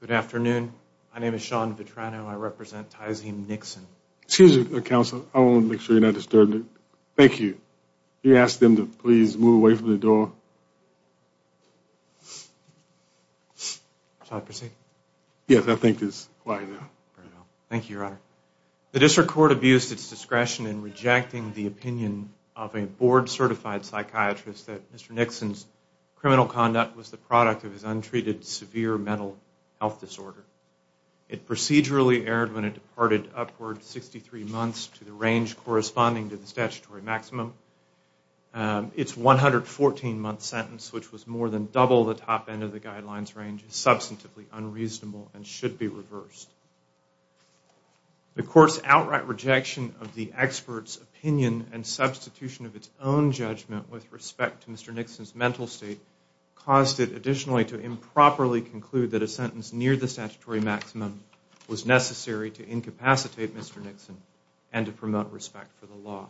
Good afternoon, my name is Sean Vitrano. I represent Tyzheem Nixon. Excuse me, counsel, I want to make sure you're not disturbing me. Thank you. Can you ask them to please move away from the door? Yes, I think it's quiet now. Thank you, your honor. The district court abused its discretion in rejecting the opinion of a board-certified psychiatrist that Mr. Nixon's criminal conduct was the product of his untreated severe mental health disorder. It procedurally erred when it departed upward 63 months to the range corresponding to the statutory maximum. Its 114-month sentence, which was more than double the top end of the guidelines range, is substantively unreasonable and should be reversed. The court's outright rejection of the expert's opinion and substitution of its own judgment with respect to Mr. Nixon's mental state caused it additionally to improperly conclude that a sentence near the statutory maximum was necessary to incapacitate Mr. Nixon and to promote respect for the law.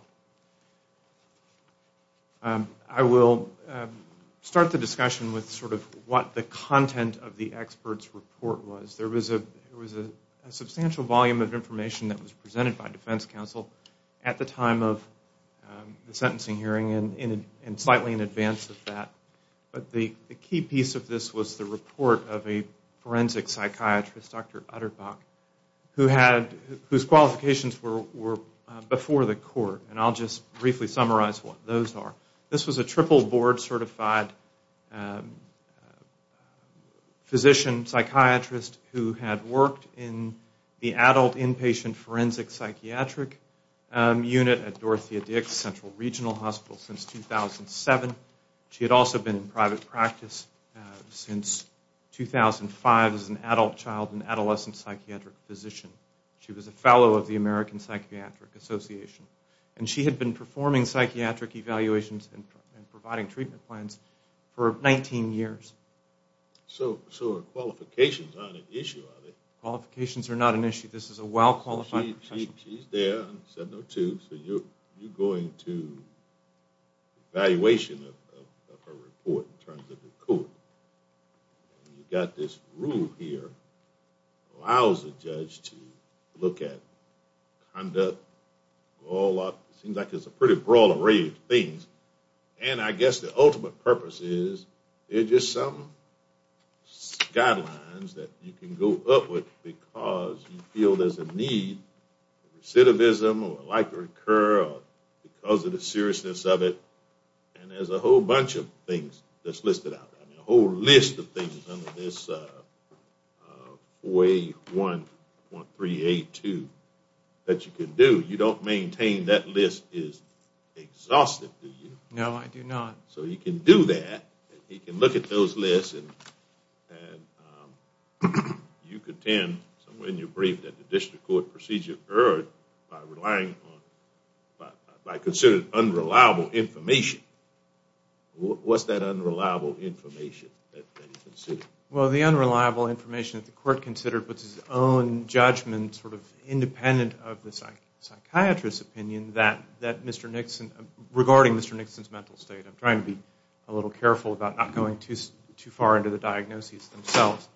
I will start the discussion with sort of what the content of the expert's report was. There was a substantial volume of information that was presented by defense counsel at the time of the sentencing hearing and slightly in advance of that. But the key piece of this was the report of a forensic psychiatrist, Dr. Utterbach, whose qualifications were before the court. And I'll just briefly summarize what those are. This was a triple board certified physician psychiatrist who had worked in the adult inpatient forensic psychiatric unit at Dorothea Dix Central Regional Hospital since 2007. She had also been in private practice since 2005 as an adult child and adolescent psychiatric physician. She was a fellow of the American Psychiatric Association. And she had been performing psychiatric evaluations and providing treatment plans for 19 years. So her qualifications aren't an issue, are they? Qualifications are not an issue. This is a well-qualified profession. She's there on 702, so you're going to evaluation of her report in terms of the court. You've got this rule here, allows the judge to look at conduct, seems like it's a pretty broad array of things. And I guess the ultimate purpose is there's just some guidelines that you can go up with because you feel there's a need, recidivism, or like to recur because of the seriousness of it. And there's a whole bunch of things that's listed out. A whole list of things under this 4A1.382 that you can do. You don't maintain that list is exhausted, do you? No, I do not. So he can do that. He can look at those lists. And you contend somewhere in your brief that the district court procedure erred by relying on, by considering unreliable information. What's that unreliable information that you consider? Well, the unreliable information that the court considered was its own judgment sort of independent of the psychiatrist's opinion that Mr. Nixon, regarding Mr. Nixon's mental state. I'm trying to be a little careful about not going too far into the diagnoses themselves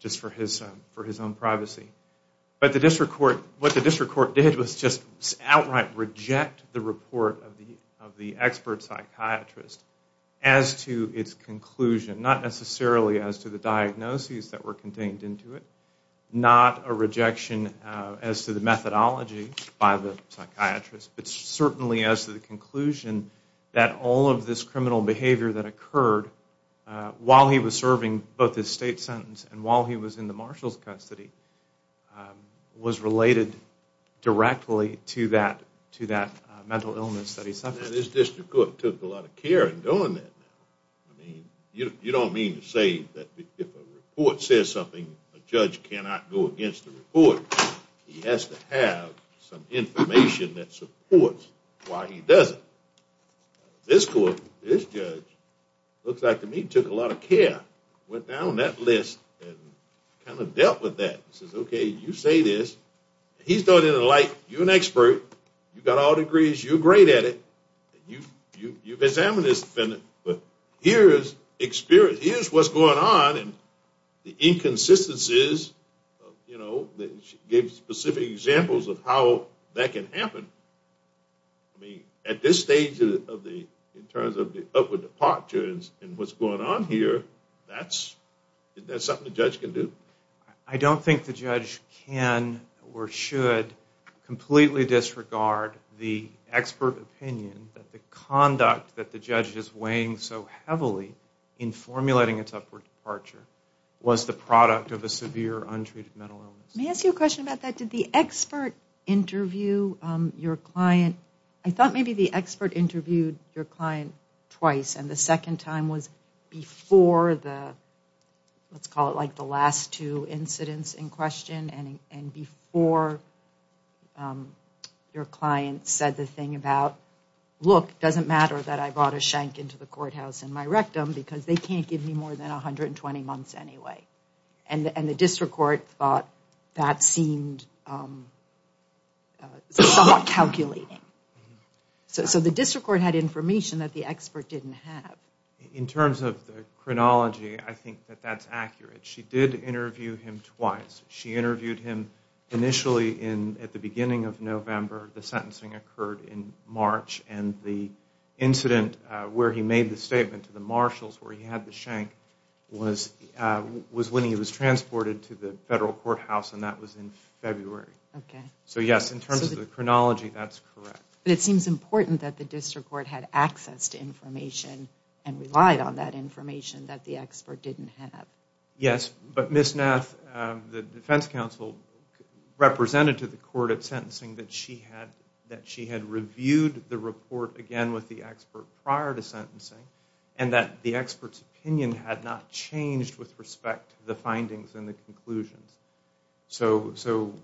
just for his own privacy. But the district court, what the district court did was just outright reject the report of the expert psychiatrist as to its conclusion. Not necessarily as to the diagnoses that were contained into it. Not a rejection as to the methodology by the psychiatrist. But certainly as to the conclusion that all of this criminal behavior that occurred while he was serving both his state sentence and while he was in the marshal's custody was related directly to that mental illness that he suffered. Now this district court took a lot of care in doing that. I mean, you don't mean to say that if a report says something, a judge cannot go against the report. He has to have some information that supports why he does it. This court, this judge, looks like to me took a lot of care. Went down that list and kind of dealt with that. He says, okay, you say this. He's throwing it in the light. You're an expert. You've got all degrees. You're great at it. You've examined this defendant. But here is experience. Here's what's going on and the inconsistencies of, you know, gave specific examples of how that can happen. I mean, at this stage in terms of the upward departure and what's going on here, that's something the judge can do. I don't think the judge can or should completely disregard the expert opinion that the conduct that the judge is weighing so heavily in formulating its upward departure was the product of a severe untreated mental illness. Let me ask you a question about that. Did the expert interview your client? I thought maybe the expert interviewed your client twice and the second time was before the let's call it like the last two incidents in question and before your client said the thing about, look, it doesn't matter that I brought a shank into the courthouse in my rectum because they can't give me more than 120 months anyway. And the district court thought that seemed somewhat calculating. So the district court had information that the expert didn't have. In terms of the chronology, I think that that's accurate. She did interview him twice. She interviewed him initially at the beginning of November. The sentencing occurred in March and the incident where he made the statement to the marshals where he had the shank was when he was transported to the federal courthouse and that was in February. So yes, in terms of the chronology, that's correct. But it seems important that the district court had access to information and relied on that information that the expert didn't have. Yes, but Ms. Nath, the defense counsel, represented to the court at sentencing that she had reviewed the report again with the expert prior to sentencing and that the expert's opinion had not changed with respect to the findings and the conclusions. So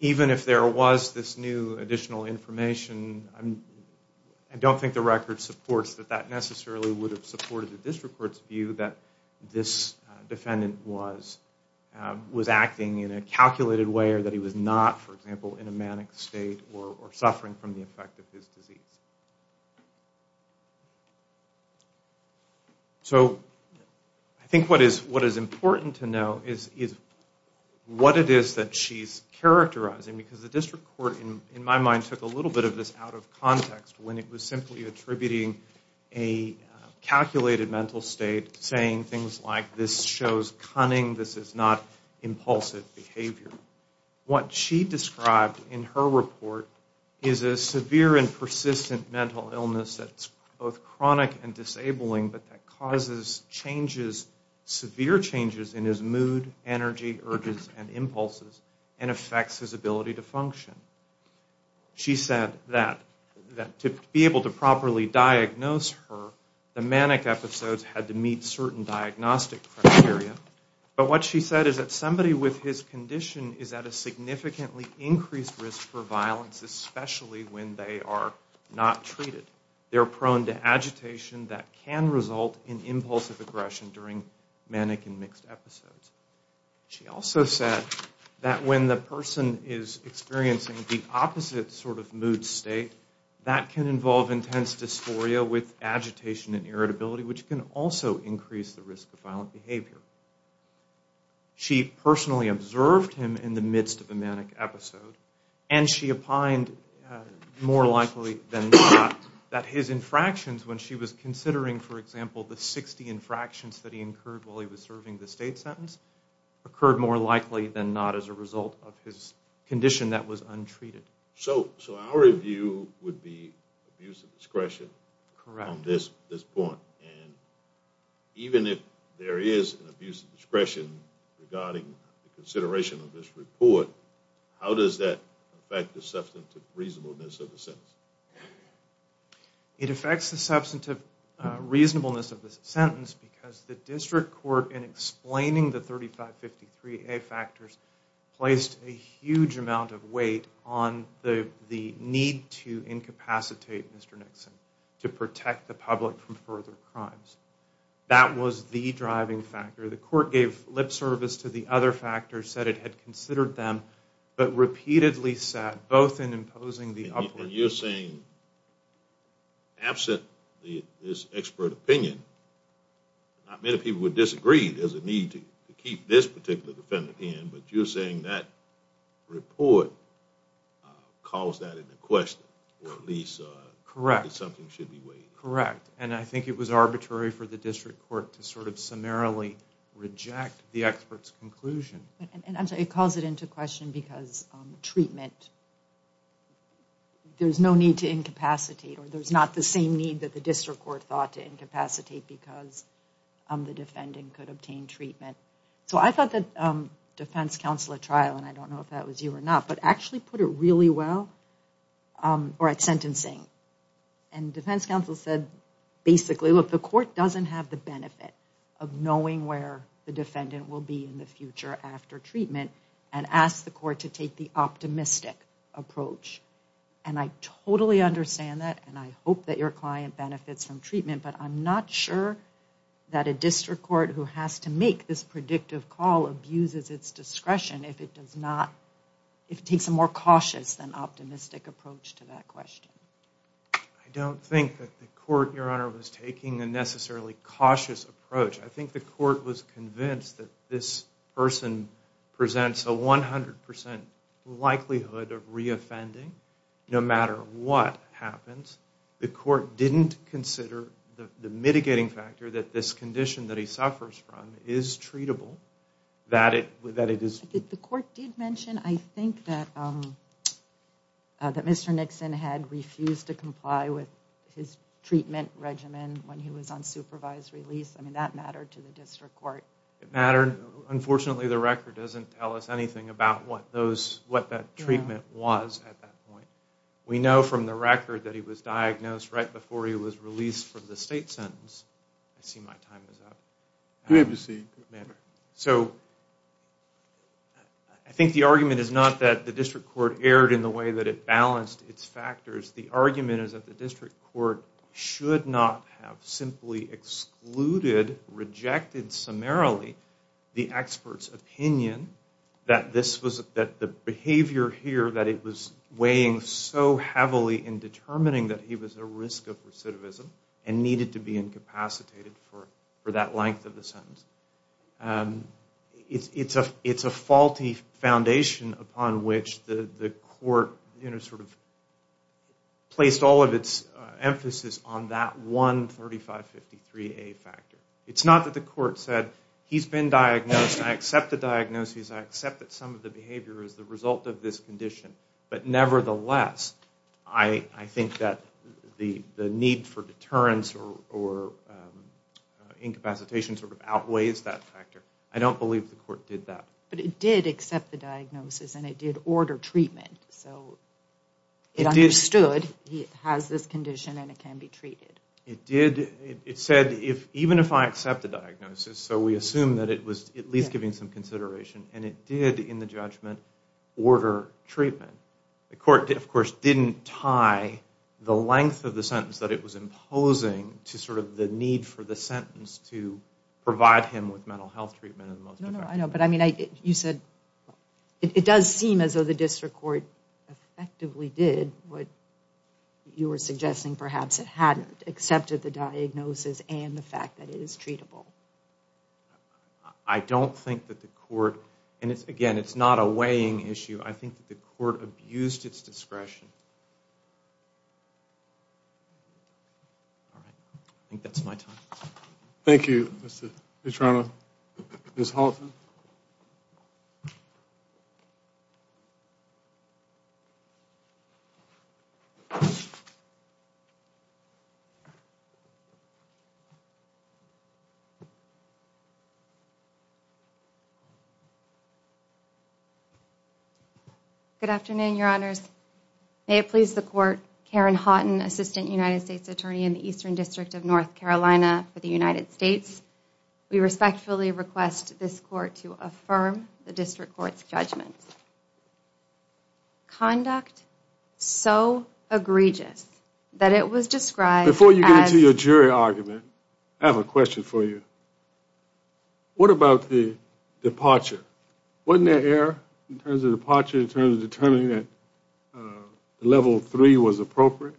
even if there was this new additional information, I don't think the record supports that that necessarily would have supported the district court's view that this defendant was acting in a calculated way or that he was not, for example, in a manic state or suffering from the effect of his disease. So I think what is important to know is what it is that she's characterizing because the district court, in my mind, took a little bit of this out of context when it was simply attributing a calculated mental state saying things like this shows cunning, this is not impulsive behavior. What she described in her report is a severe and persistent mental illness that's both chronic and disabling but that causes changes, severe changes in his mood, energy, urges, and impulses and affects his ability to function. She said that to be able to properly diagnose her, the manic episodes had to meet certain diagnostic criteria. But what she said is that somebody with his condition is at a significantly increased risk for violence, especially when they are not treated. They're prone to agitation that can result in impulsive aggression during manic and mixed episodes. She also said that when the person is experiencing the opposite sort of mood state, that can involve intense dysphoria with agitation and irritability which can also increase the risk of violent behavior. She personally observed him in the midst of a manic episode and she opined more likely than not that his infractions, when she was considering, for example, the 60 infractions that he incurred while he was serving the state sentence, occurred more likely than not as a result of his condition that was untreated. So our review would be abuse of discretion on this point. Even if there is an abuse of discretion regarding the consideration of this report, how does that affect the substantive reasonableness of the sentence? It affects the substantive reasonableness of the sentence because the district court, in explaining the 3553A factors, placed a huge amount of weight on the need to incapacitate Mr. Nixon to protect the public from further crimes. That was the driving factor. The court gave lip service to the other factors, said it had considered them, but repeatedly sat, both in imposing the... And you're saying, absent this expert opinion, not many people would disagree, there's a need to keep this particular defendant in, but you're saying that report calls that into question, or at least something should be weighed. Correct. And I think it was arbitrary for the district court to sort of summarily reject the expert's conclusion. It calls it into question because treatment, there's no need to incapacitate, or there's not the same need that the district court thought to incapacitate because the defendant could obtain treatment. So I thought that defense counsel at trial, and I don't know if that was you or not, but actually put it really well, or at sentencing, and defense counsel said basically, look, the court doesn't have the benefit of knowing where the defendant will be in the future after treatment, and asked the court to take the optimistic approach. And I totally understand that, and I hope that your client benefits from treatment, but I'm not sure that a district court who has to make this predictive call abuses its discretion if it does not, if it takes a more cautious than optimistic approach to that question. I don't think that the court, Your Honor, was taking a necessarily cautious approach. I think the court was convinced that this person presents a 100% likelihood of re-offending no matter what happens. The court didn't consider the mitigating factor that this condition that he suffers from is treatable, that it is... The court did mention, I think, that Mr. Nixon had refused to comply with his treatment regimen when he was on supervised release. I mean, that mattered to the district court. It mattered. Unfortunately, the record doesn't tell us anything about what that treatment was at that point. We know from the record that he was diagnosed right before he was released from the state sentence. I see my time is up. I think the argument is not that the district court erred in the way that it balanced its factors. The argument is that the district court should not have simply excluded, rejected summarily the expert's opinion that the behavior here that it was weighing so heavily in determining that he was at risk of recidivism and needed to be incapacitated for that length of the sentence. It's a faulty foundation upon which the court placed all of its emphasis on that one 3553A factor. It's not that the court said, he's been diagnosed, I accept the diagnosis, I accept that some of the behavior is the result of this condition, but nevertheless, I think that the need for deterrence or incapacitation outweighs that factor. I don't believe the court did that. It understood he has this condition and it can be treated. It said, even if I accept the diagnosis, so we assume that it was at least giving some consideration, and it did, in the judgment, order treatment. The court, of course, didn't tie the length of the sentence that it was imposing to the need for the sentence to provide him with mental health treatment. I know, but I mean, you said, it does seem as though the district court effectively did what you were suggesting, perhaps it hadn't accepted the diagnosis and the fact that it is treatable. I don't think that the court, and again, it's not a weighing issue, I think the court abused its discretion. All right. I think that's my time. Thank you, Mr. Trano. Ms. Halton. Good afternoon, Your Honors. May it please the court, Karen Houghton, Assistant United States Attorney in the Eastern District of North Carolina for the United States. We respectfully request this court to affirm the district court's judgment. Conduct so egregious that it was described as... Before you get into your jury argument, I have a question for you. What about the departure? Wasn't there error in terms of departure, in terms of determining that level three was appropriate?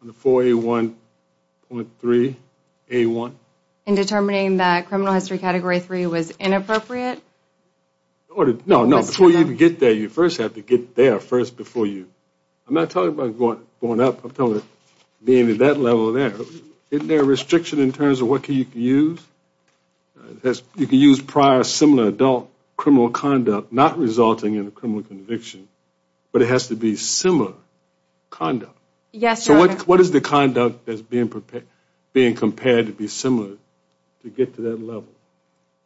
On the 4A1.3A1? In determining that criminal history category three was inappropriate? No, no, before you even get there, you first have to get there first before you... I'm not talking about going up, I'm talking about being at that level there. Isn't there a restriction in terms of what you can use? You can use prior similar adult criminal conduct not resulting in a criminal conviction, but it has to be similar conduct. So what is the conduct that's being compared to be similar to get to that level?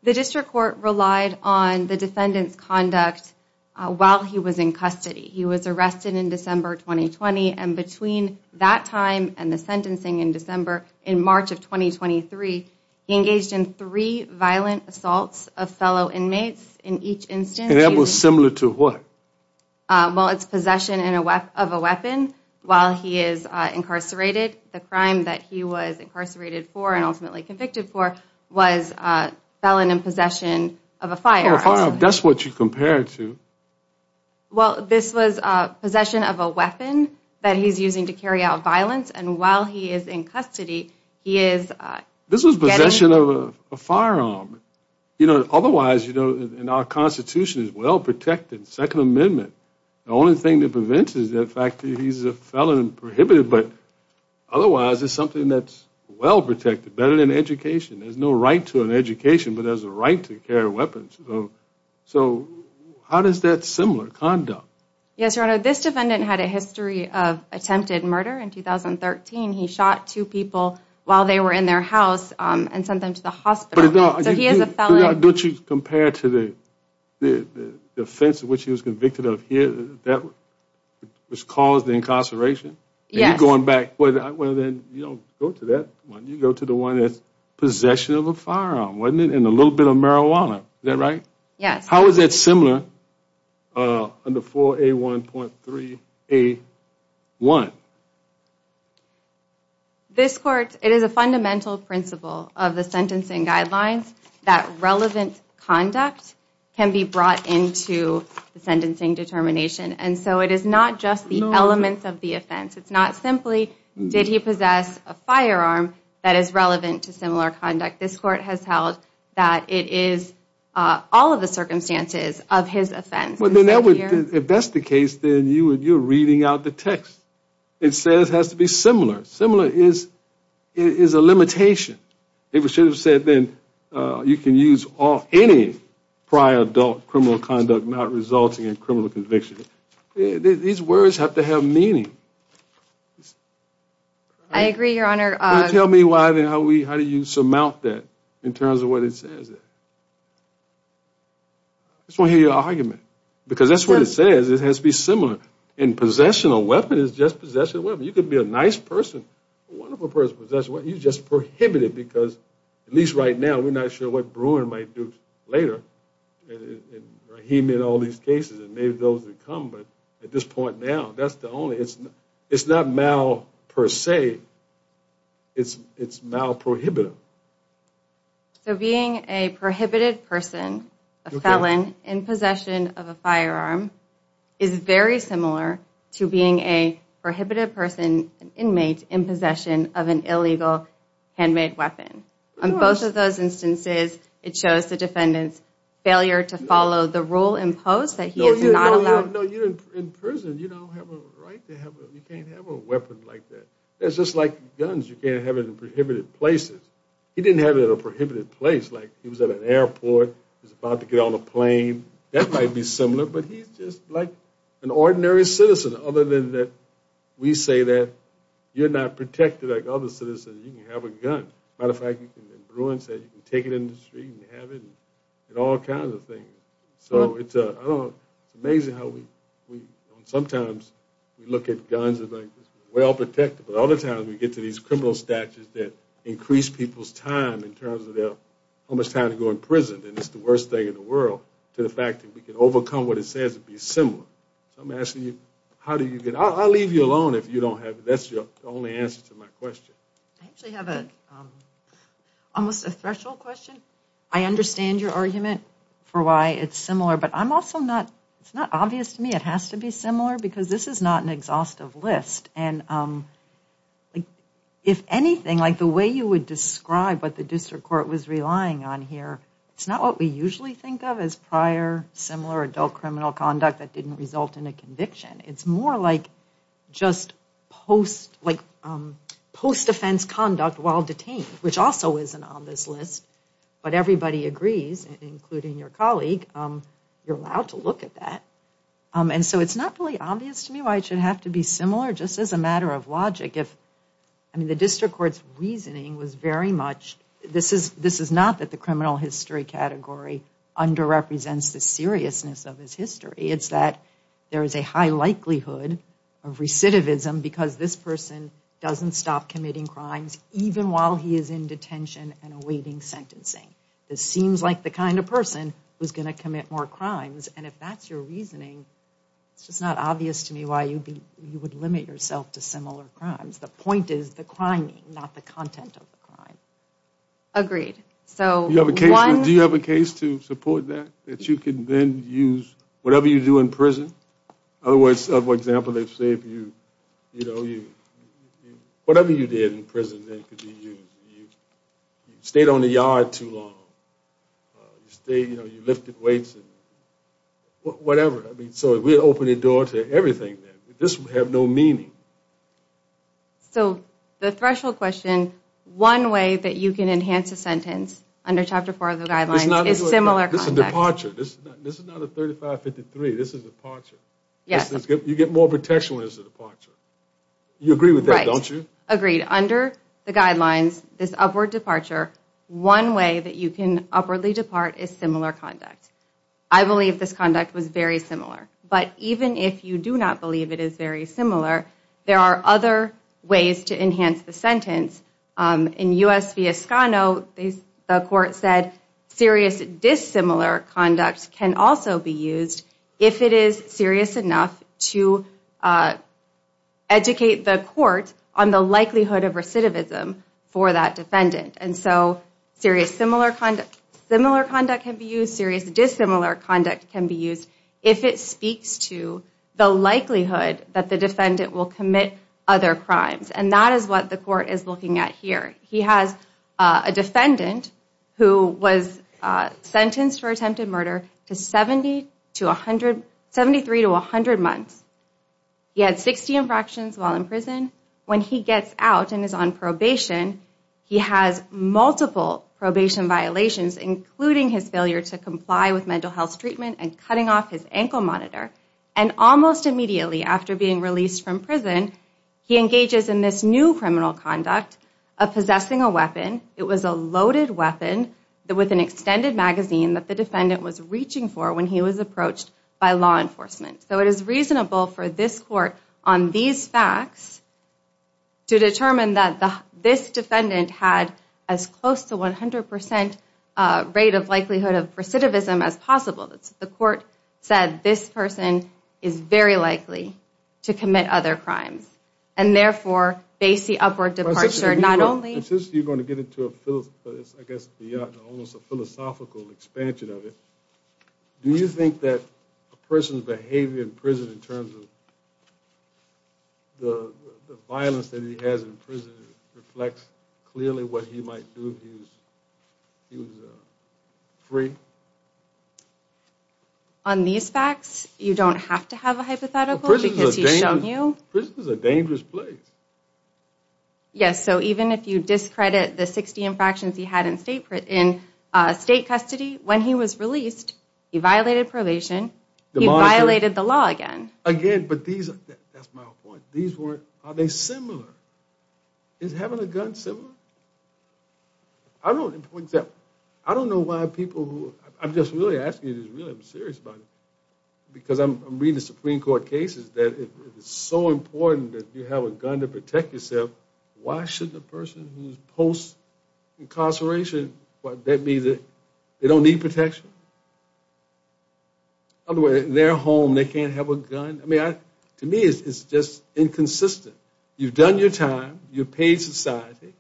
The district court relied on the defendant's conduct while he was in custody. He was arrested in December 2020, and between that time and the sentencing in December, in March of 2023, he engaged in three violent assaults of fellow inmates in each instance. And that was similar to what? Well, it's possession of a weapon while he is incarcerated. The crime that he was incarcerated for and ultimately convicted for was felon in possession of a firearm. That's what you compare it to. Well, this was possession of a weapon that he's using to carry out violence, and while he is in custody, he is... This was possession of a firearm. Otherwise, in our Constitution, it's well protected, Second Amendment. The only thing that prevents it is the fact that he's a felon and prohibited, but otherwise it's something that's well protected, better than education. There's no right to an education, but there's a right to carry weapons. So how does that similar conduct? Yes, Your Honor, this defendant had a history of attempted murder in 2013. He shot two people while they were in their house and sent them to the hospital. So he is a felon. Don't you compare it to the offense of which he was convicted of here that caused the incarceration? Yes. You go to the one that's possession of a firearm, wasn't it, and a little bit of marijuana, is that right? Yes. How is that similar under 4A1.3A1? This Court, it is a fundamental principle of the sentencing guidelines that relevant conduct can be brought into the sentencing determination, and so it is not just the elements of the offense. It's not simply did he possess a firearm that is relevant to similar conduct. This Court has held that it is all of the circumstances of his offense. If that's the case, then you're reading out the text. It says it has to be similar. Similar is a limitation. You can use any prior adult criminal conduct not resulting in criminal conviction. These words have to have meaning. I agree, Your Honor. Then tell me how you surmount that in terms of what it says. I just want to hear your argument, because that's what it says. It has to be similar. Possession of a weapon is just possession of a weapon. You could be a nice person, a wonderful person, but you just prohibit it because, at least right now, we're not sure what Bruin might do later, and Rahim in all these cases, and maybe those that come, but at this point now, that's the only... It's not mal, per se. It's mal prohibitive. So being a prohibited person, a felon, in possession of a firearm is very similar to being a prohibited person, an inmate, in possession of an illegal handmade weapon. It shows the defendant's failure to follow the rule imposed that he is not allowed... No, you're in prison. You don't have a right to have a... You can't have a weapon like that. It's just like guns. You can't have it in prohibited places. He was at an airport. He was about to get on a plane. That might be similar, but he's just like an ordinary citizen, other than that we say that you're not protected like other citizens. You can have a gun. As a matter of fact, Bruin said you can take it in the street and have it, and all kinds of things. It's amazing how sometimes we look at guns as well-protected, but other times we get to these criminal statutes that increase people's time in terms of how much time to go in prison, and it's the worst thing in the world, to the fact that we can overcome what it says to be similar. So I'm asking you, how do you get... I'll leave you alone if you don't have... That's the only answer to my question. I understand your argument for why it's similar, but I'm also not... It's not obvious to me it has to be similar, because this is not an exhaustive list. And if anything, the way you would describe what the district court was relying on here, it's not what we usually think of as prior similar adult criminal conduct that didn't result in a conviction. It's more like just post-offense conduct while detained, which also isn't on this list, but everybody agrees, including your colleague, you're allowed to look at that. And so it's not really obvious to me why it should have to be similar, just as a matter of logic. I mean, the district court's reasoning was very much... This is not that the criminal history category underrepresents the seriousness of his history. It's that there is a high likelihood of recidivism, because this person doesn't stop committing crimes even while he is in detention and awaiting sentencing. This seems like the kind of person who's going to commit more crimes. And if that's your reasoning, it's just not obvious to me why you would limit yourself to similar crimes. The point is the crime, not the content of the crime. Agreed. So one... Do you have a case to support that, that you could then use whatever you do in prison? In other words, for example, let's say if you, you know, you... Whatever you did in prison that could be used. You stayed on the yard too long. You stayed, you know, you lifted weights and whatever. I mean, so if we open the door to everything, this would have no meaning. So the threshold question, one way that you can enhance a sentence under Chapter 4 of the guidelines is similar context. Departure. This is not a 3553. This is departure. You get more protection when it's a departure. You agree with that, don't you? Agreed. Under the guidelines, this upward departure, one way that you can upwardly depart is similar conduct. I believe this conduct was very similar. But even if you do not believe it is very similar, there are other ways to enhance the sentence. In U.S. v. Escano, the court said serious dissimilar conduct can also be used if it is serious enough to educate the court on the likelihood of recidivism for that defendant. And so serious similar conduct can be used. Serious dissimilar conduct can be used if it speaks to the likelihood that the defendant will commit other crimes. And that is what the court is looking at here. He has a defendant who was sentenced for attempted murder to 73 to 100 months. He had 60 infractions while in prison. When he gets out and is on probation, he has multiple probation violations, including his failure to comply with mental health treatment and cutting off his ankle monitor. And almost immediately after being released from prison, he engages in this new criminal conduct of possessing a weapon. It was a loaded weapon with an extended magazine that the defendant was reaching for when he was approached by law enforcement. So it is reasonable for this court on these facts to determine that this defendant had as close to 100 percent rate of likelihood of recidivism as possible. The court said this person is very likely to commit other crimes. And therefore, they see upward departure not only... Do you think that a person's behavior in prison in terms of the violence that he has in prison reflects clearly what he might do if he was free? On these facts, you don't have to have a hypothetical because he's shown you... Yes, so even if you discredit the 60 infractions he had in state custody, when he was released, he violated probation, he violated the law again. Again, but these... That's my point. These weren't... Are they similar? Is having a gun similar? I don't know why people who... I'm just really asking you this, really. I'm serious about it. Because I'm reading the Supreme Court cases that it's so important that you have a gun to protect yourself. Why shouldn't a person who's post-incarceration... They don't need protection? In their home, they can't have a gun? I mean, to me, it's just inconsistent. You've done your time, you've paid society,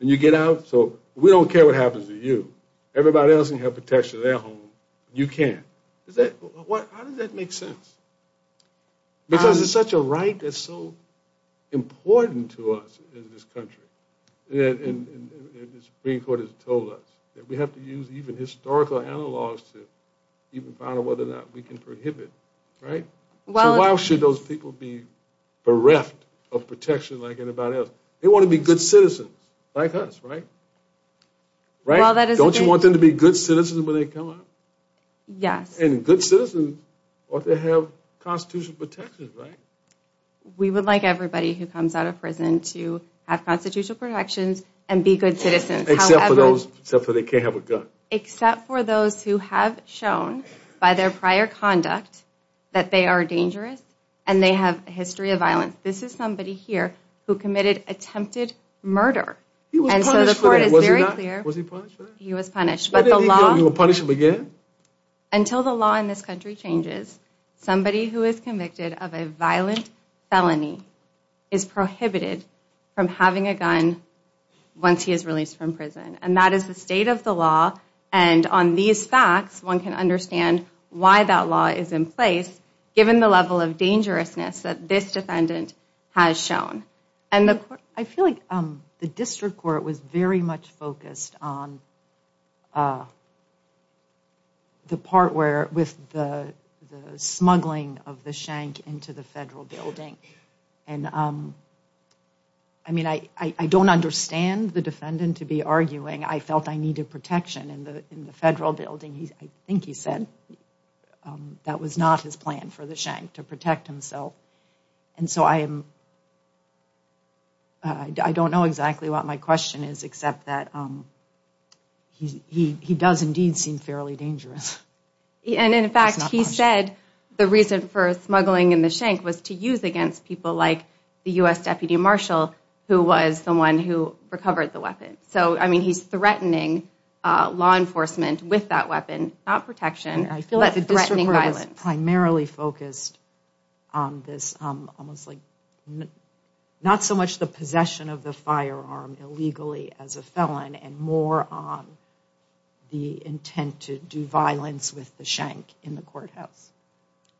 and you get out sober. We don't care what happens to you. Everybody else can have protection in their home. You can't. How does that make sense? Because it's such a right that's so important to us in this country. And the Supreme Court has told us that we have to use even historical analogs to even find out whether or not we can prohibit, right? So why should those people be bereft of protection like anybody else? They want to be good citizens, like us, right? Don't you want them to be good citizens when they come out? And good citizens ought to have constitutional protections, right? We would like everybody who comes out of prison to have constitutional protections and be good citizens. Except for those who have shown by their prior conduct that they are dangerous and they have a history of violence. This is somebody here who committed attempted murder. He was punished for that? Until the law in this country changes, somebody who is convicted of a violent felony is prohibited from having a gun once he is released from prison. And that is the state of the law. And on these facts, one can understand why that law is in place given the level of dangerousness that this defendant has shown. I feel like the district court was very much focused on the part where with the smuggling of the shank into the federal building. And I mean, I don't understand the defendant to be arguing, I felt I needed protection in the federal building. I think he said that was not his plan for the shank to protect himself. And so I am, I don't know exactly what my question is, except that he does indeed seem fairly dangerous. And in fact, he said the reason for smuggling in the shank was to use against people like the U.S. Deputy Marshal, who was the one who recovered the weapon. So, I mean, he is threatening law enforcement with that weapon, not protection. I feel like the district court was primarily focused on this, almost like not so much the possession of the firearm illegally as a felon and more on the intent to do violence with the shank in the courthouse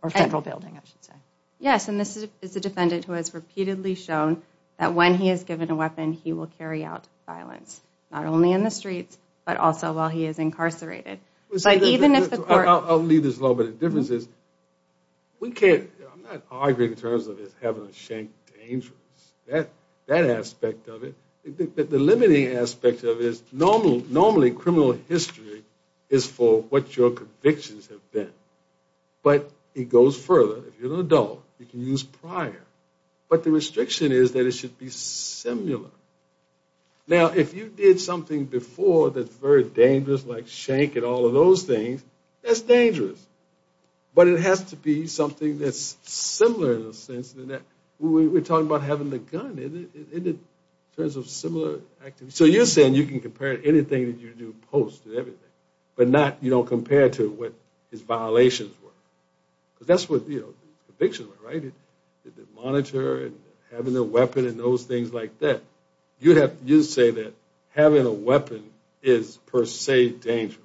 or federal building, I should say. Yes. And this is a defendant who has repeatedly shown that when he is given a weapon, he will carry out violence, not only in the streets, but also while he is incarcerated. I will leave this alone, but the difference is, we can't, I am not arguing in terms of having a shank dangerous, that aspect of it. The limiting aspect of it is normally criminal history is for what your convictions have been. But it goes further, if you are an adult, you can use prior. But the restriction is that it should be similar. Now, if you did something before that is very dangerous, like shank and all of those things, that is dangerous. But it has to be something that is similar in a sense. We are talking about having the gun in terms of similar activities. So you are saying you can compare it to anything that you do post and everything, but you don't compare it to what his violations were. Because that is what convictions were, right? Monitor and having a weapon and those things like that. You say that having a weapon is per se dangerous.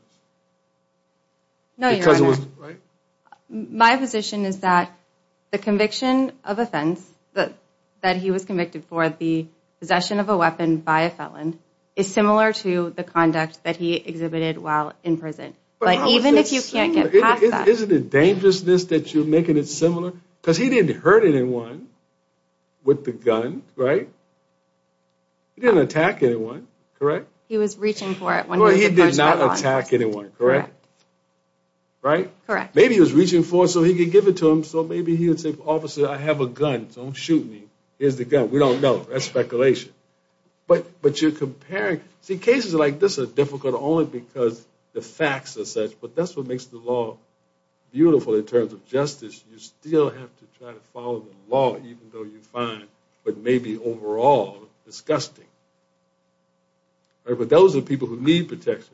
My position is that the conviction of offense that he was convicted for, the possession of a weapon by a felon, is similar to the conduct that he exhibited while in prison. But even if you can't get past that. Isn't it dangerousness that you are making it similar? Because he didn't hurt anyone with the gun, right? He didn't attack anyone, correct? He was reaching for it. But you are comparing, see cases like this are difficult only because the facts are such, but that is what makes the law beautiful in terms of justice. You still have to try to follow the law even though you find what may be overall disgusting. But those are people who need protection.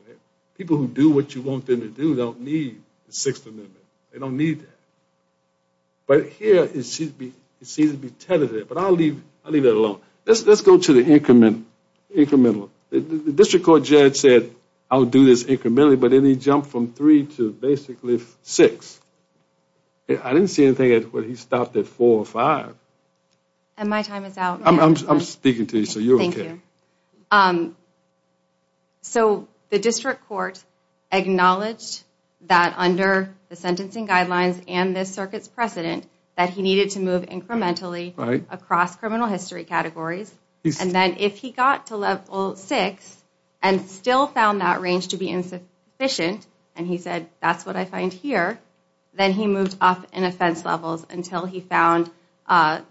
People who do what you want them to do don't need the Sixth Amendment. They don't need that. But here it seems to be tentative, but I will leave it alone. Let's go to the incremental. The District Court judge said I will do this incrementally, but then he jumped from three to basically six. I didn't see anything where he stopped at four or five. I am speaking to you, so you are okay. The District Court acknowledged that under the sentencing guidelines and this circuit's precedent that he needed to move incrementally across criminal history categories, and then if he got to level six and still found that range to be insufficient, and he said that is what I find here, then he moved up in offense levels until he found a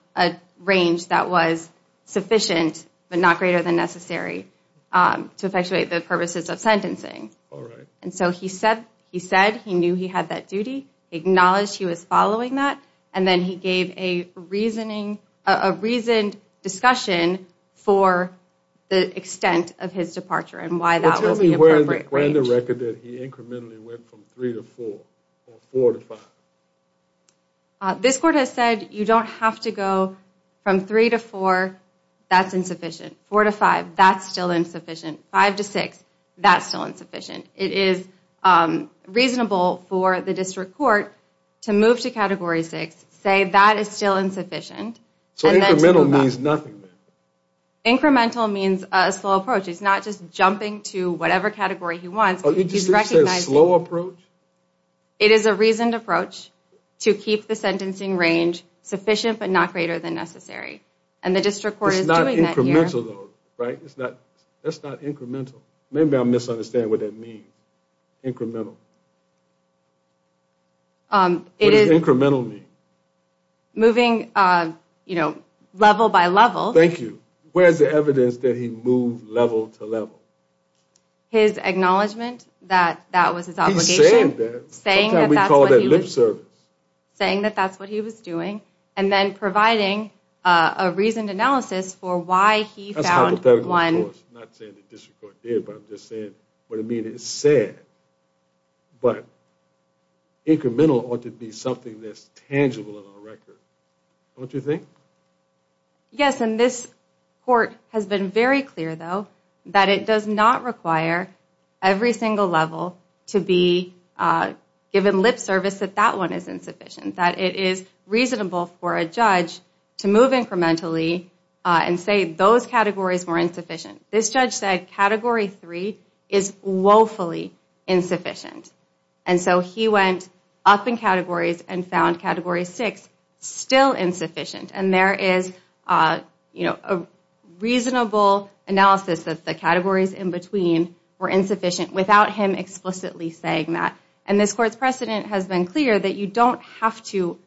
range that was sufficient but not greater than necessary to effectuate the purposes of sentencing. He said he knew he had that duty, acknowledged he was following that, and then he gave a reasoned discussion for the extent of his departure and why that was the appropriate range. He said that he incrementally went from three to four or four to five. This court has said you don't have to go from three to four, that's insufficient. Four to five, that's still insufficient. Five to six, that's still insufficient. It is reasonable for the District Court to move to category six, say that is still insufficient, and then to move up. Incremental means nothing. Incremental means a slow approach. He's not just jumping to whatever category he wants. He's recognizing it is a reasoned approach to keep the sentencing range sufficient but not greater than necessary, and the District Court is doing that here. That's not incremental. Maybe I'm misunderstanding what that means. Incremental. What does incremental mean? Moving level by level. Thank you. Where's the evidence that he moved level to level? His acknowledgment that that was his obligation. He said that. Saying that that's what he was doing and then providing a reasoned analysis for why he found one. I'm not saying the District Court did, but I'm just saying what it means. It's sad, but incremental ought to be something that's tangible in our record. Don't you think? Yes, and this court has been very clear though that it does not require every single level to be given lip service that that one is insufficient. That it is reasonable for a judge to move incrementally and say those categories were insufficient. This judge said category 3 is woefully insufficient. He went up in categories and found category 6 still insufficient. There is a reasonable analysis that the categories in between were insufficient without him explicitly saying that. And this court's precedent has been clear that you don't have to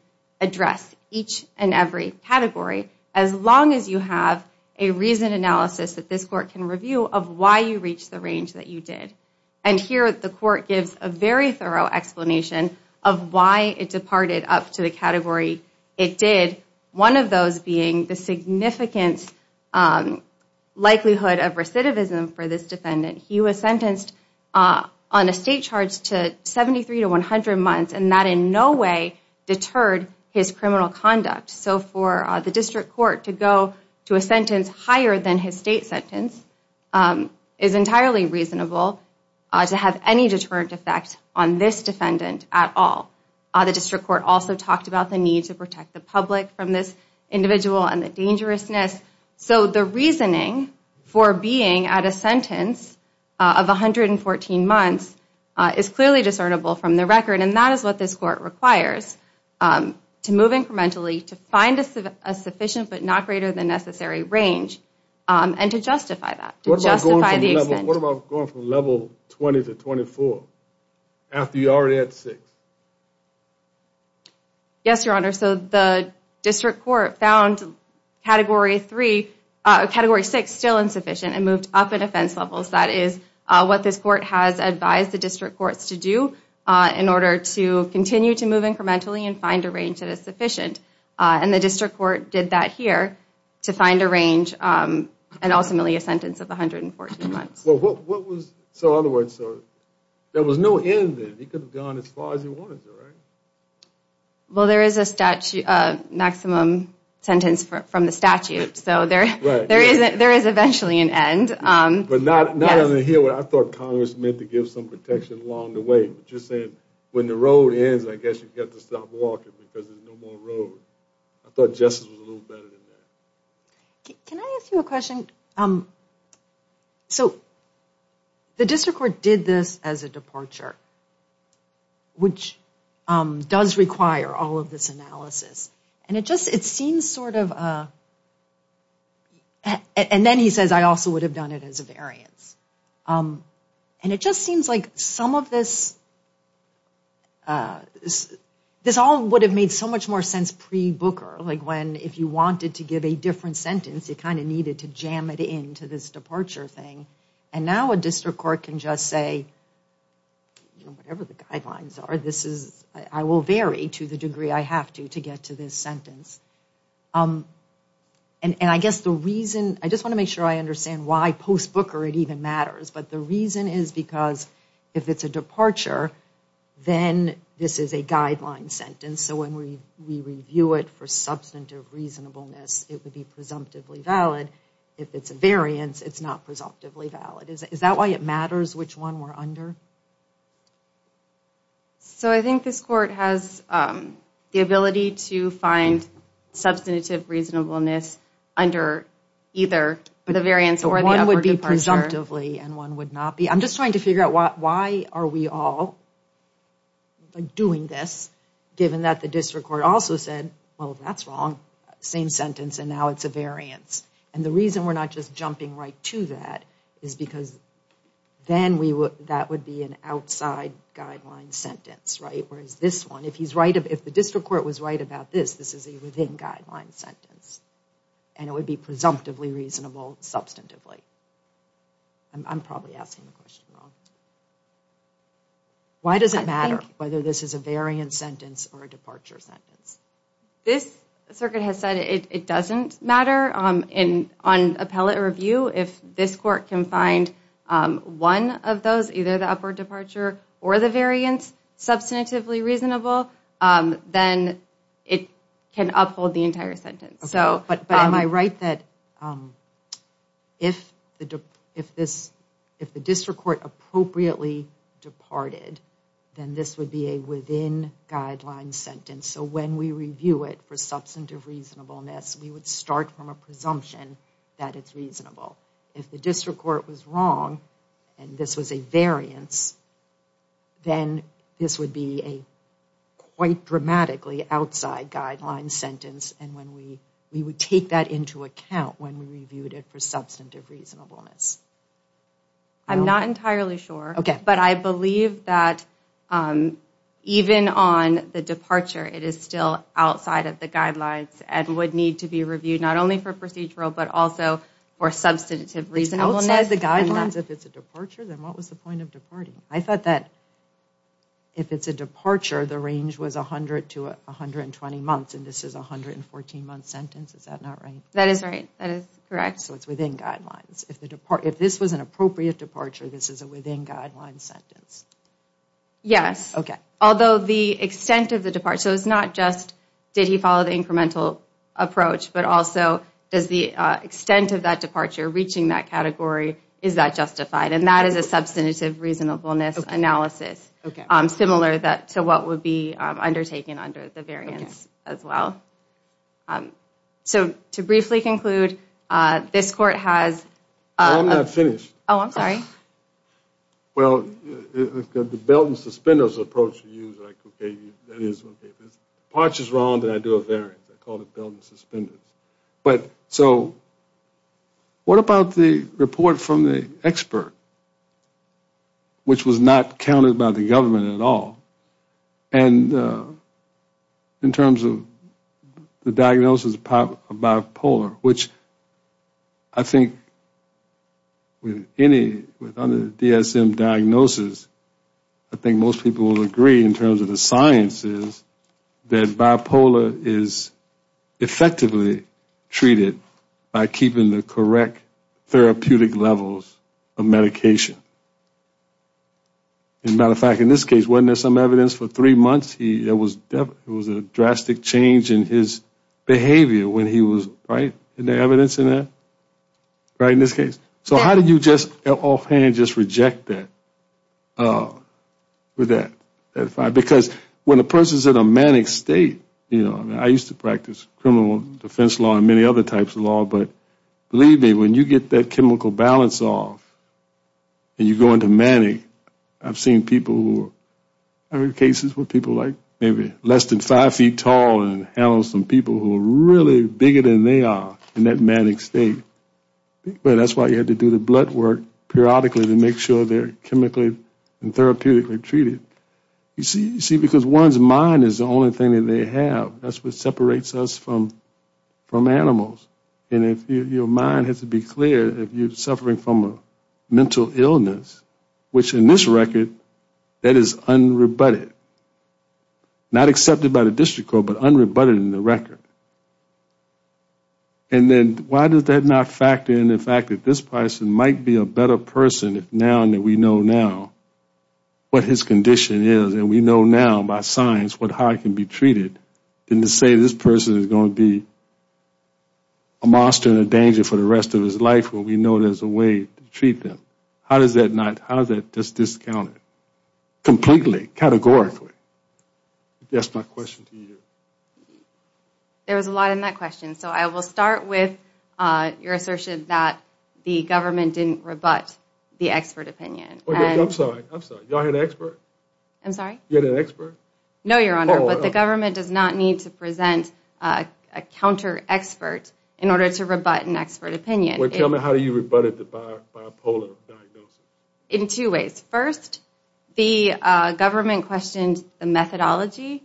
address each and every category as long as you have a reasoned analysis that this court can review of why you reached the range that you did. And here the court gives a very thorough explanation of why it departed up to the category it did. One of those being the significant likelihood of recidivism for this defendant. He was sentenced on a state charge to 73 to 100 months and that in no way deterred his criminal conduct. So for the District Court to go to a sentence higher than his state sentence is entirely reasonable to have any deterrent effect on this defendant at all. The District Court also talked about the need to protect the public from this individual and the dangerousness. So the reasoning for being at a sentence of 114 months is clearly discernible from the record and that is what this court requires to move incrementally to find a sufficient but not greater than necessary range and to justify that. What about going from level 20 to 24 after you already had 6? Yes, Your Honor. So the District Court found category 3, category 6 still insufficient and moved up in offense levels. That is what this court has advised the District Courts to do in order to continue to move incrementally and find a range that is sufficient. And the District Court did that here to find a range and ultimately a sentence of 114 months. So in other words, there was no end there. He could have gone as far as he wanted to, right? Well, there is a maximum sentence from the statute. So there is eventually an end. I thought Congress meant to give some protection along the way. Just saying, when the road ends, I guess you have to stop walking because there is no more road. I thought justice was a little better than that. Can I ask you a question? The District Court did this as a departure, which does require all of this analysis. And it just seems sort of, and then he says, I also would have done it as a variance. And it just seems like some of this, this all would have made so much more sense pre-Booker. If you wanted to give a different sentence, you kind of needed to jam it into this departure thing. And now a District Court can just say, whatever the guidelines are, I will vary to the degree I have to to get to this sentence. And I guess the reason, I just want to make sure I understand why post-Booker it even this is a guideline sentence. So when we review it for substantive reasonableness, it would be presumptively valid. If it is a variance, it is not presumptively valid. Is that why it matters which one we are under? So I think this Court has the ability to find substantive reasonableness under either the variance or the other departure. Presumptively, and one would not be, I'm just trying to figure out why are we all doing this given that the District Court also said, well that's wrong. Same sentence and now it's a variance. And the reason we're not just jumping right to that is because then that would be an outside guideline sentence. Whereas this one, if the District Court was right about this, this is a within guideline sentence. And it would be presumptively reasonable substantively. I'm probably asking the question wrong. Why does it matter whether this is a variance sentence or a departure sentence? This Circuit has said it doesn't matter. On appellate review, if this Court can find one of those, either the upward departure or the variance substantively reasonable, then it can uphold the entire sentence. But am I right that if the District Court appropriately departed, then this would be a within guideline sentence. So when we review it for substantive reasonableness, we would start from a presumption that it's reasonable. If the District Court was wrong and this was a variance, then this would be a quite dramatically outside guideline sentence and we would take that into account when we reviewed it for substantive reasonableness. I'm not entirely sure, but I believe that even on the departure it is still outside of the guidelines and would need to be If it's a departure, then what was the point of departing? I thought that if it's a departure, the range was 100 to 120 months and this is a 114 month sentence. Is that not right? That is right. That is correct. So it's within guidelines. If this was an appropriate departure, this is a within guideline sentence. Yes. Although the extent of the departure, so it's not just did he follow the incremental approach, but also does the extent of that departure reaching that category, is that justified? And that is a substantive reasonableness analysis similar to what would be undertaken under the variance as well. So to briefly conclude, this Court has Well, the belt and suspenders approach is If departure is wrong, then I do a variance. I call it belt and suspenders. So what about the report from the expert, which was not counted by the government at all, and in terms of the diagnosis of bipolar, which I think with any DSM diagnosis, I think most people would agree in terms of the sciences, that bipolar is effectively treated by keeping the correct therapeutic levels of medication. As a matter of fact, in this case, wasn't there some evidence for three months there was a drastic change in his behavior when he was, right? Isn't there evidence in that, right, in this case? So how did you just offhand just reject that? Because when a person is in a manic state, you know, I used to practice criminal defense law and many other types of law, but believe me, when you get that chemical balance off, and you go into manic, I've seen people who are in cases where people are like less than five feet tall and handle some people who are really bigger than they are in that manic state, but that's why you had to do the blood work periodically to make sure they're chemically and therapeutically treated. You see, because one's mind is the only thing that they have. That's what separates us from animals. And if your mind has to be clear, if you're suffering from a mental illness, which in this record, that is unrebutted. Not accepted by the district court, but unrebutted in the record. And then why does that not factor in the fact that this person might be a better person now that we know now what his condition is, and we know now by science how he can be treated, than to say this person is going to be a monster and a danger for the rest of his life when we know there's a way to treat them. How does that discount it completely, categorically? That's my question to you. There was a lot in that question, so I will start with your assertion that the government didn't rebut the expert opinion. I'm sorry, I'm sorry. Y'all had an expert? I'm sorry? You had an expert? No, Your Honor, but the government does not need to present a counter-expert in order to rebut an expert opinion. How do you rebut a bipolar diagnosis? In two ways. First, the government questioned the methodology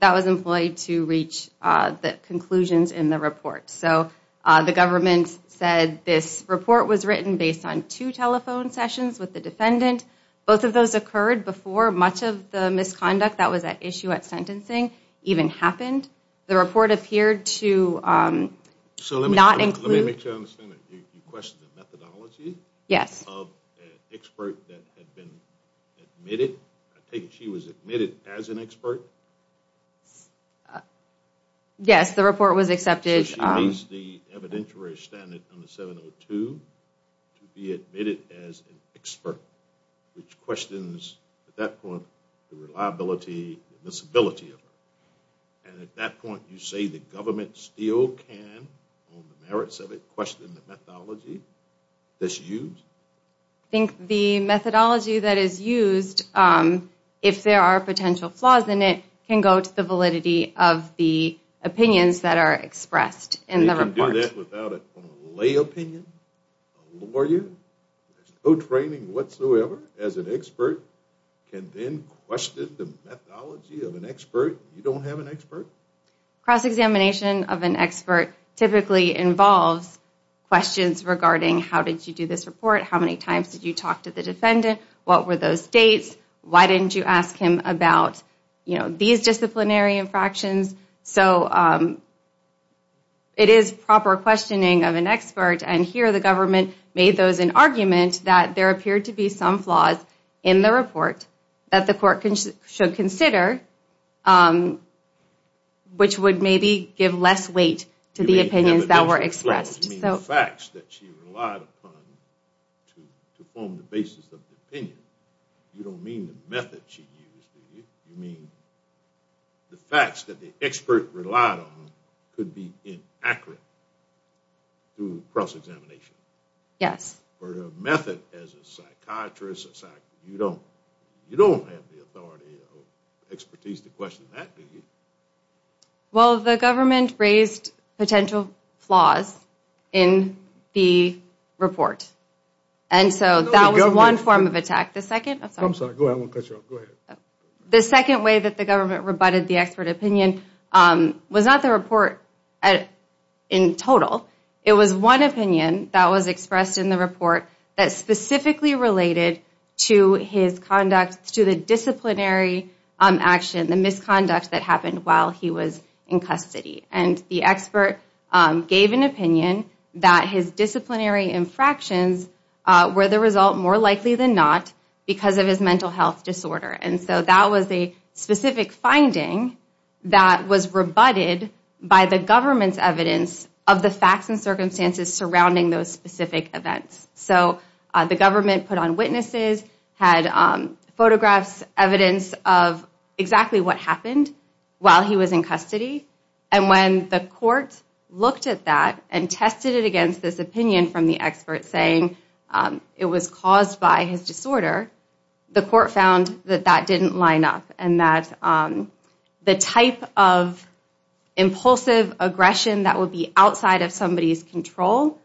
that was employed to reach the conclusions in the report. So the government said this report was written based on two telephone sessions with the defendant. Both of those occurred before much of the misconduct that was at issue at sentencing even happened. The report appeared to not include... So let me make sure I understand that. You questioned the methodology of an expert that had been admitted. I take it she was admitted as an expert? Yes, the report was accepted. So she meets the evidentiary standard under 702 to be admitted as an expert, which questions, at that point, the reliability, the admissibility of it. And at that point, you say the government still can, on the merits of it, question the methodology that's used? I think the methodology that is used, if there are potential flaws in it, can go to the validity of the opinions that are expressed in the report. They can do that without a lay opinion, a lawyer, there's no training whatsoever as an expert, can then question the methodology of an expert if you don't have an expert? Cross-examination of an expert typically involves questions regarding how did you do this report, how many times did you talk to the defendant, what were those dates, why didn't you ask him about these disciplinary infractions. So it is proper questioning of an expert, and here the government made those an argument that there appeared to be some flaws in the report that the court should consider, which would maybe give less weight to the opinions that were expressed. You mean the facts that she relied upon to form the basis of the opinion. You don't mean the method she used, do you? You mean the facts that the expert relied on could be inaccurate through cross-examination? Yes. For a method as a psychiatrist, you don't have the authority or expertise to question that, do you? Well, the government raised potential flaws in the report, and so that was one form of attack. The second way that the government rebutted the expert opinion was not the report in total. It was one opinion that was expressed in the report that specifically related to his conduct, to the disciplinary action, the misconduct that happened while he was in custody. And the expert gave an opinion that his disciplinary infractions were the result more likely than not because of his mental health disorder, and so that was a specific finding that was rebutted by the government's evidence of the facts and circumstances surrounding those specific events. So the government put on witnesses, had photographs, evidence of exactly what happened while he was in custody, and when the court looked at that and tested it against this opinion from the expert, saying it was caused by his disorder, the court found that that didn't line up and that the type of impulsive aggression that would be outside of somebody's control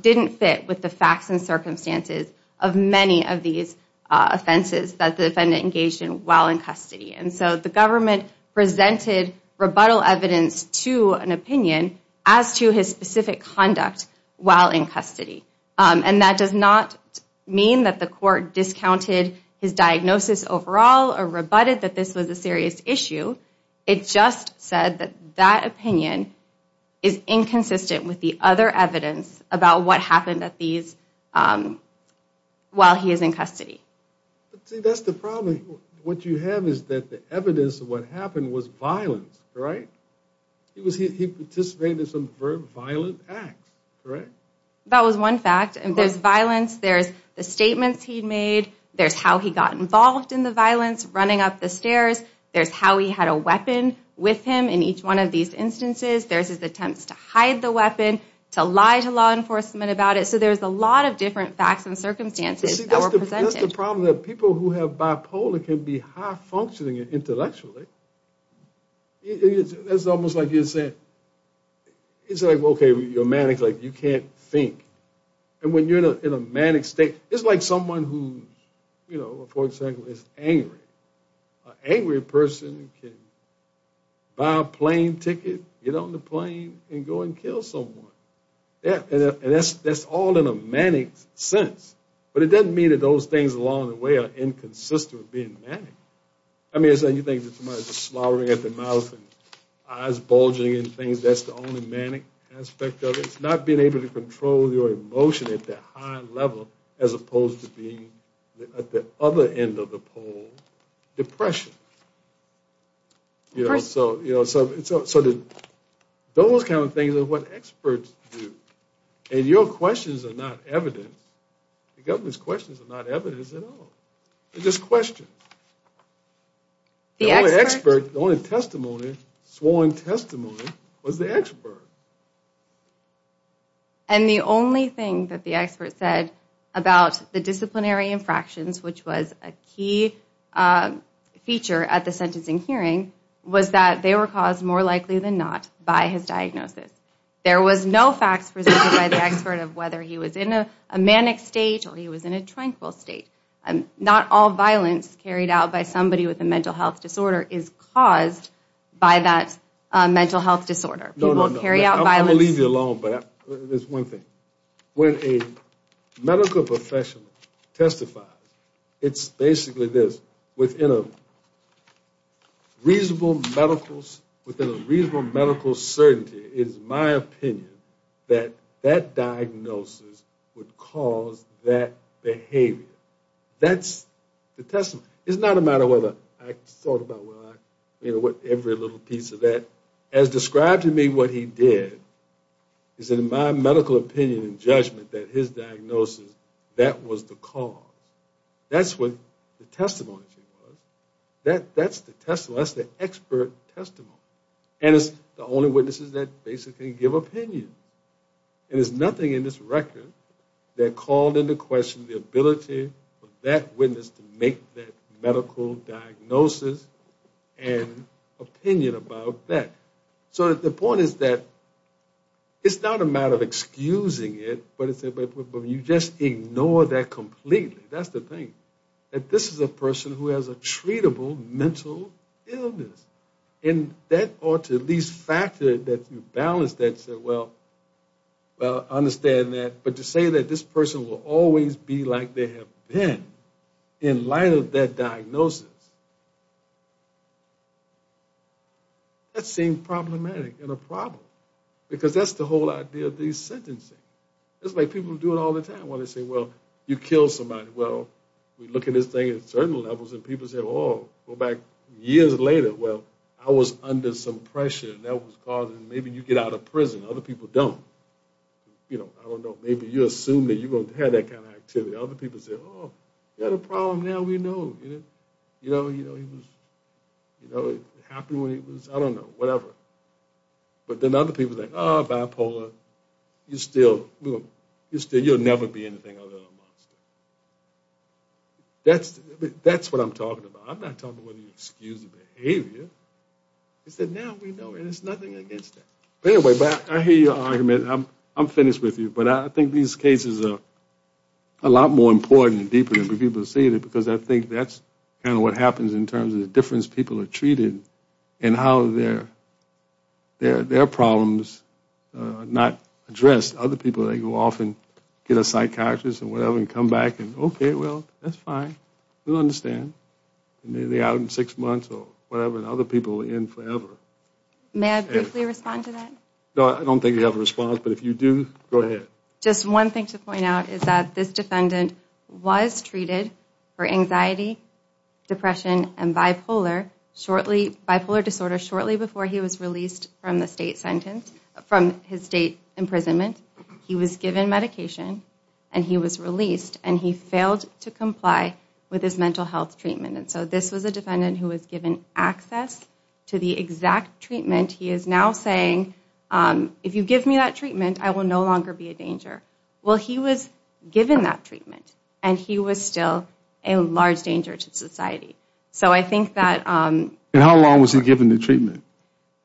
didn't fit with the facts and circumstances of many of these offenses that the defendant engaged in while in custody. And so the government presented rebuttal evidence to an opinion as to his specific conduct while in custody. And that does not mean that the court discounted his diagnosis overall or rebutted that this was a serious issue. It just said that that opinion is inconsistent with the other evidence about what happened while he is in custody. See, that's the problem. What you have is that the evidence of what happened was violence, right? He participated in some very violent acts, correct? That was one fact. There's violence. There's the statements he made. There's how he got involved in the violence, running up the stairs. There's how he had a weapon with him in each one of these instances. There's his attempts to hide the weapon, to lie to law enforcement about it. So there's a lot of different facts and circumstances that were presented. See, that's the problem, that people who have bipolar can be high-functioning intellectually. It's almost like you're saying, it's like, okay, you're manic, like you can't think. And when you're in a manic state, it's like someone who, you know, for example, is angry. An angry person can buy a plane ticket, get on the plane, and go and kill someone. And that's all in a manic sense. But it doesn't mean that those things along the way are inconsistent with being manic. I mean, you think that somebody's just slurring at the mouth and eyes bulging and things, that's the only manic aspect of it. It's not being able to control your emotion at that high level as opposed to being at the other end of the pole, depression. You know, so those kind of things are what experts do. And your questions are not evidence. The government's questions are not evidence at all. They're just questions. The only expert, the only testimony, sworn testimony was the expert. And the only thing that the expert said about the disciplinary infractions, which was a key feature at the sentencing hearing, was that they were caused more likely than not by his diagnosis. There was no facts presented by the expert of whether he was in a manic state or he was in a tranquil state. Not all violence carried out by somebody with a mental health disorder is caused by that mental health disorder. People carry out violence. I'm going to leave you alone, but there's one thing. When a medical professional testifies, it's basically this. Within a reasonable medical certainty, it is my opinion that that diagnosis would cause that behavior. That's the testimony. It's not a matter of whether I thought about every little piece of that. As described to me, what he did is, in my medical opinion and judgment, that his diagnosis, that was the cause. That's what the testimony was. That's the expert testimony. And it's the only witnesses that basically give opinion. And there's nothing in this record that called into question the ability for that witness to make that medical diagnosis and opinion about that. So the point is that it's not a matter of excusing it, but you just ignore that completely. That's the thing, that this is a person who has a treatable mental illness. And that ought to at least factor that you balance that and say, well, I understand that. But to say that this person will always be like they have been in light of that diagnosis, that seems problematic and a problem because that's the whole idea of these sentencing. It's like people do it all the time when they say, well, you killed somebody. Well, we look at this thing at certain levels, and people say, oh, go back years later, well, I was under some pressure, and that was causing maybe you get out of prison. Other people don't. I don't know. Maybe you assume that you're going to have that kind of activity. Other people say, oh, you had a problem. Now we know. You know, it happened when he was, I don't know, whatever. But then other people are like, oh, bipolar, you'll never be anything other than a monster. That's what I'm talking about. I'm not talking whether you excuse the behavior. It's that now we know, and there's nothing against that. Anyway, I hear your argument. I'm finished with you. But I think these cases are a lot more important and deeper than people see it because I think that's kind of what happens in terms of the difference people are treated and how their problems are not addressed. Other people, they go off and get a psychiatrist and whatever and come back and, okay, well, that's fine. We'll understand. Maybe they're out in six months or whatever, and other people are in forever. May I briefly respond to that? No, I don't think you have a response. But if you do, go ahead. Just one thing to point out is that this defendant was treated for anxiety, depression, and bipolar disorder shortly before he was released from his state imprisonment. He was given medication, and he was released, and he failed to comply with his mental health treatment. So this was a defendant who was given access to the exact treatment. He is now saying, if you give me that treatment, I will no longer be a danger. Well, he was given that treatment, and he was still a large danger to society. And how long was he given the treatment?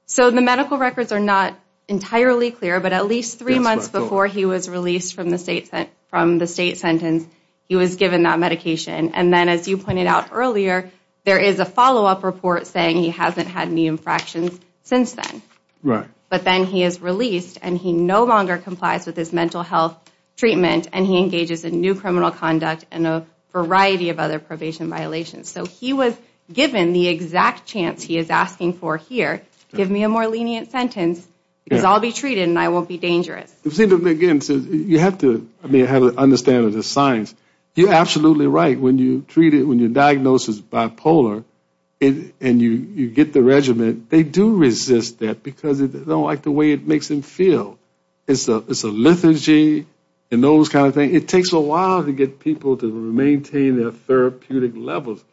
So the medical records are not entirely clear, but at least three months before he was released from the state sentence, he was given that medication. And then, as you pointed out earlier, there is a follow-up report saying he hasn't had any infractions since then. Right. But then he is released, and he no longer complies with his mental health treatment, and he engages in new criminal conduct and a variety of other probation violations. So he was given the exact chance he is asking for here, give me a more lenient sentence because I'll be treated and I won't be dangerous. Again, you have to have an understanding of the science. You're absolutely right. When you're diagnosed as bipolar and you get the regimen, they do resist that because they don't like the way it makes them feel. It's a liturgy and those kind of things. It takes a while to get people to maintain their therapeutic levels.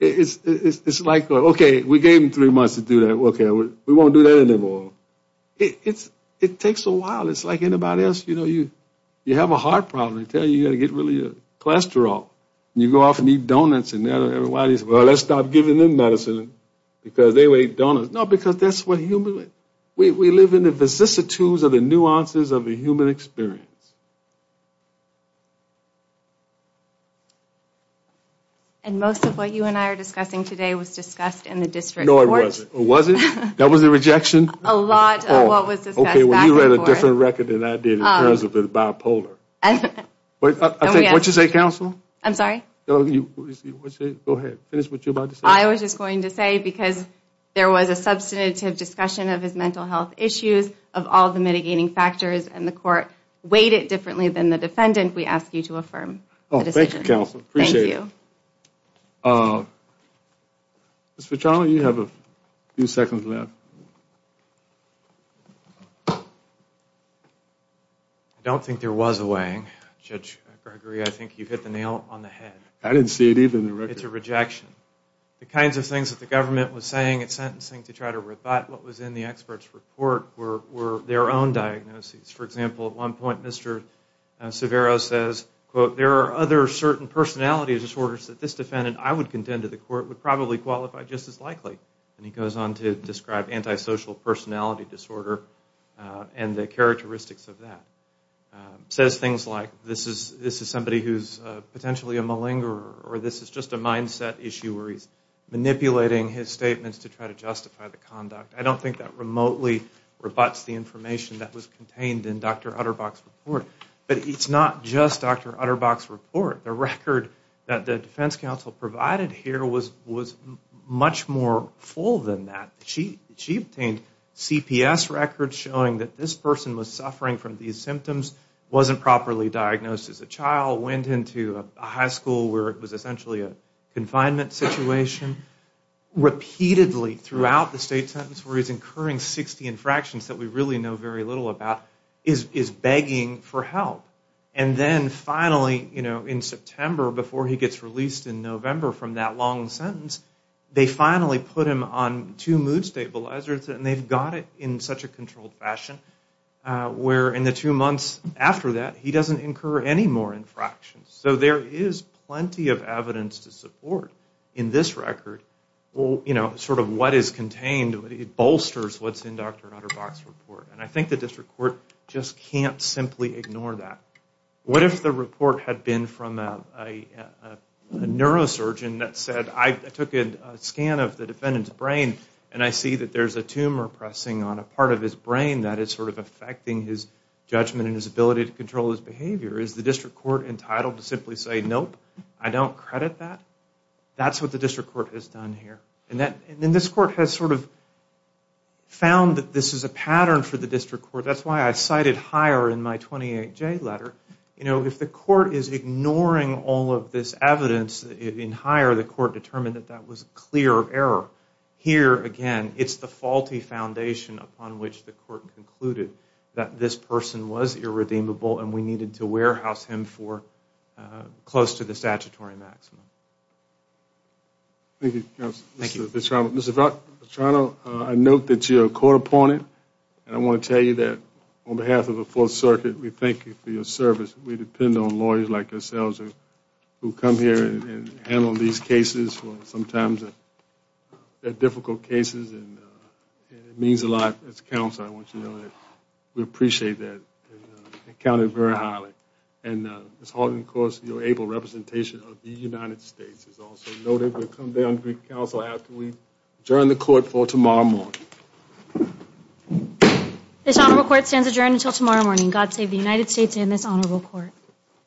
It's like, okay, we gave him three months to do that. Okay, we won't do that anymore. It takes a while. It's like anybody else. You have a heart problem. They tell you you've got to get rid of your cholesterol. You go off and eat donuts and everybody says, well, let's stop giving them medicine because they will eat donuts. No, because that's what humans do. We live in the vicissitudes of the nuances of the human experience. And most of what you and I are discussing today was discussed in the district court. No, it wasn't. Was it? That was a rejection? A lot of what was discussed back and forth. You read a different record than I did in terms of the bipolar. What did you say, counsel? I'm sorry? Go ahead. Finish what you were about to say. I was just going to say because there was a substantive discussion of his mental health issues, of all the mitigating factors, and the court weighed it differently than the defendant, we ask you to affirm the decision. Oh, thank you, counsel. Appreciate it. Mr. Vitale, you have a few seconds left. I don't think there was a weighing. Judge Gregory, I think you hit the nail on the head. I didn't see it either in the record. It's a rejection. The kinds of things that the government was saying at sentencing to try to rebut what was in the expert's report were their own diagnoses. For example, at one point, Mr. Severo says, quote, there are other certain personality disorders that this defendant, I would contend to the court, would probably qualify just as likely. And he goes on to describe antisocial personality disorder and the characteristics of that. Says things like this is somebody who's potentially a malingerer or this is just a mindset issue where he's manipulating his statements to try to justify the conduct. I don't think that remotely rebuts the information that was contained in Dr. Utterbach's report. But it's not just Dr. Utterbach's report. The record that the defense counsel provided here was much more full than that. She obtained CPS records showing that this person was suffering from these symptoms, wasn't properly diagnosed as a child, went into a high school where it was essentially a confinement situation. Repeatedly throughout the state sentence where he's incurring 60 infractions that we really know very little about is begging for help. And then finally, you know, in September before he gets released in November from that long sentence, they finally put him on two mood stabilizers and they've got it in such a controlled fashion where in the two months after that he doesn't incur any more infractions. So there is plenty of evidence to support in this record, you know, sort of what is contained. It bolsters what's in Dr. Utterbach's report. And I think the district court just can't simply ignore that. What if the report had been from a neurosurgeon that said, I took a scan of the defendant's brain and I see that there's a tumor pressing on a part of his brain that is sort of affecting his judgment and his ability to control his behavior. Is the district court entitled to simply say, nope, I don't credit that? That's what the district court has done here. And this court has sort of found that this is a pattern for the district court. That's why I cited higher in my 28J letter. You know, if the court is ignoring all of this evidence in higher, the court determined that that was a clear error. Here, again, it's the faulty foundation upon which the court concluded that this person was irredeemable and we needed to warehouse him for close to the statutory maximum. Thank you, Counselor. Thank you. Mr. Vetrano, I note that you're a court opponent. And I want to tell you that on behalf of the Fourth Circuit, we thank you for your service. We depend on lawyers like yourselves who come here and handle these cases. Sometimes they're difficult cases and it means a lot as a counselor. I want you to know that we appreciate that and count it very highly. And Ms. Horton, of course, your able representation of the United States is also noted. We'll come back to you, Counselor, after we adjourn the court for tomorrow morning. This honorable court stands adjourned until tomorrow morning. God save the United States and this honorable court.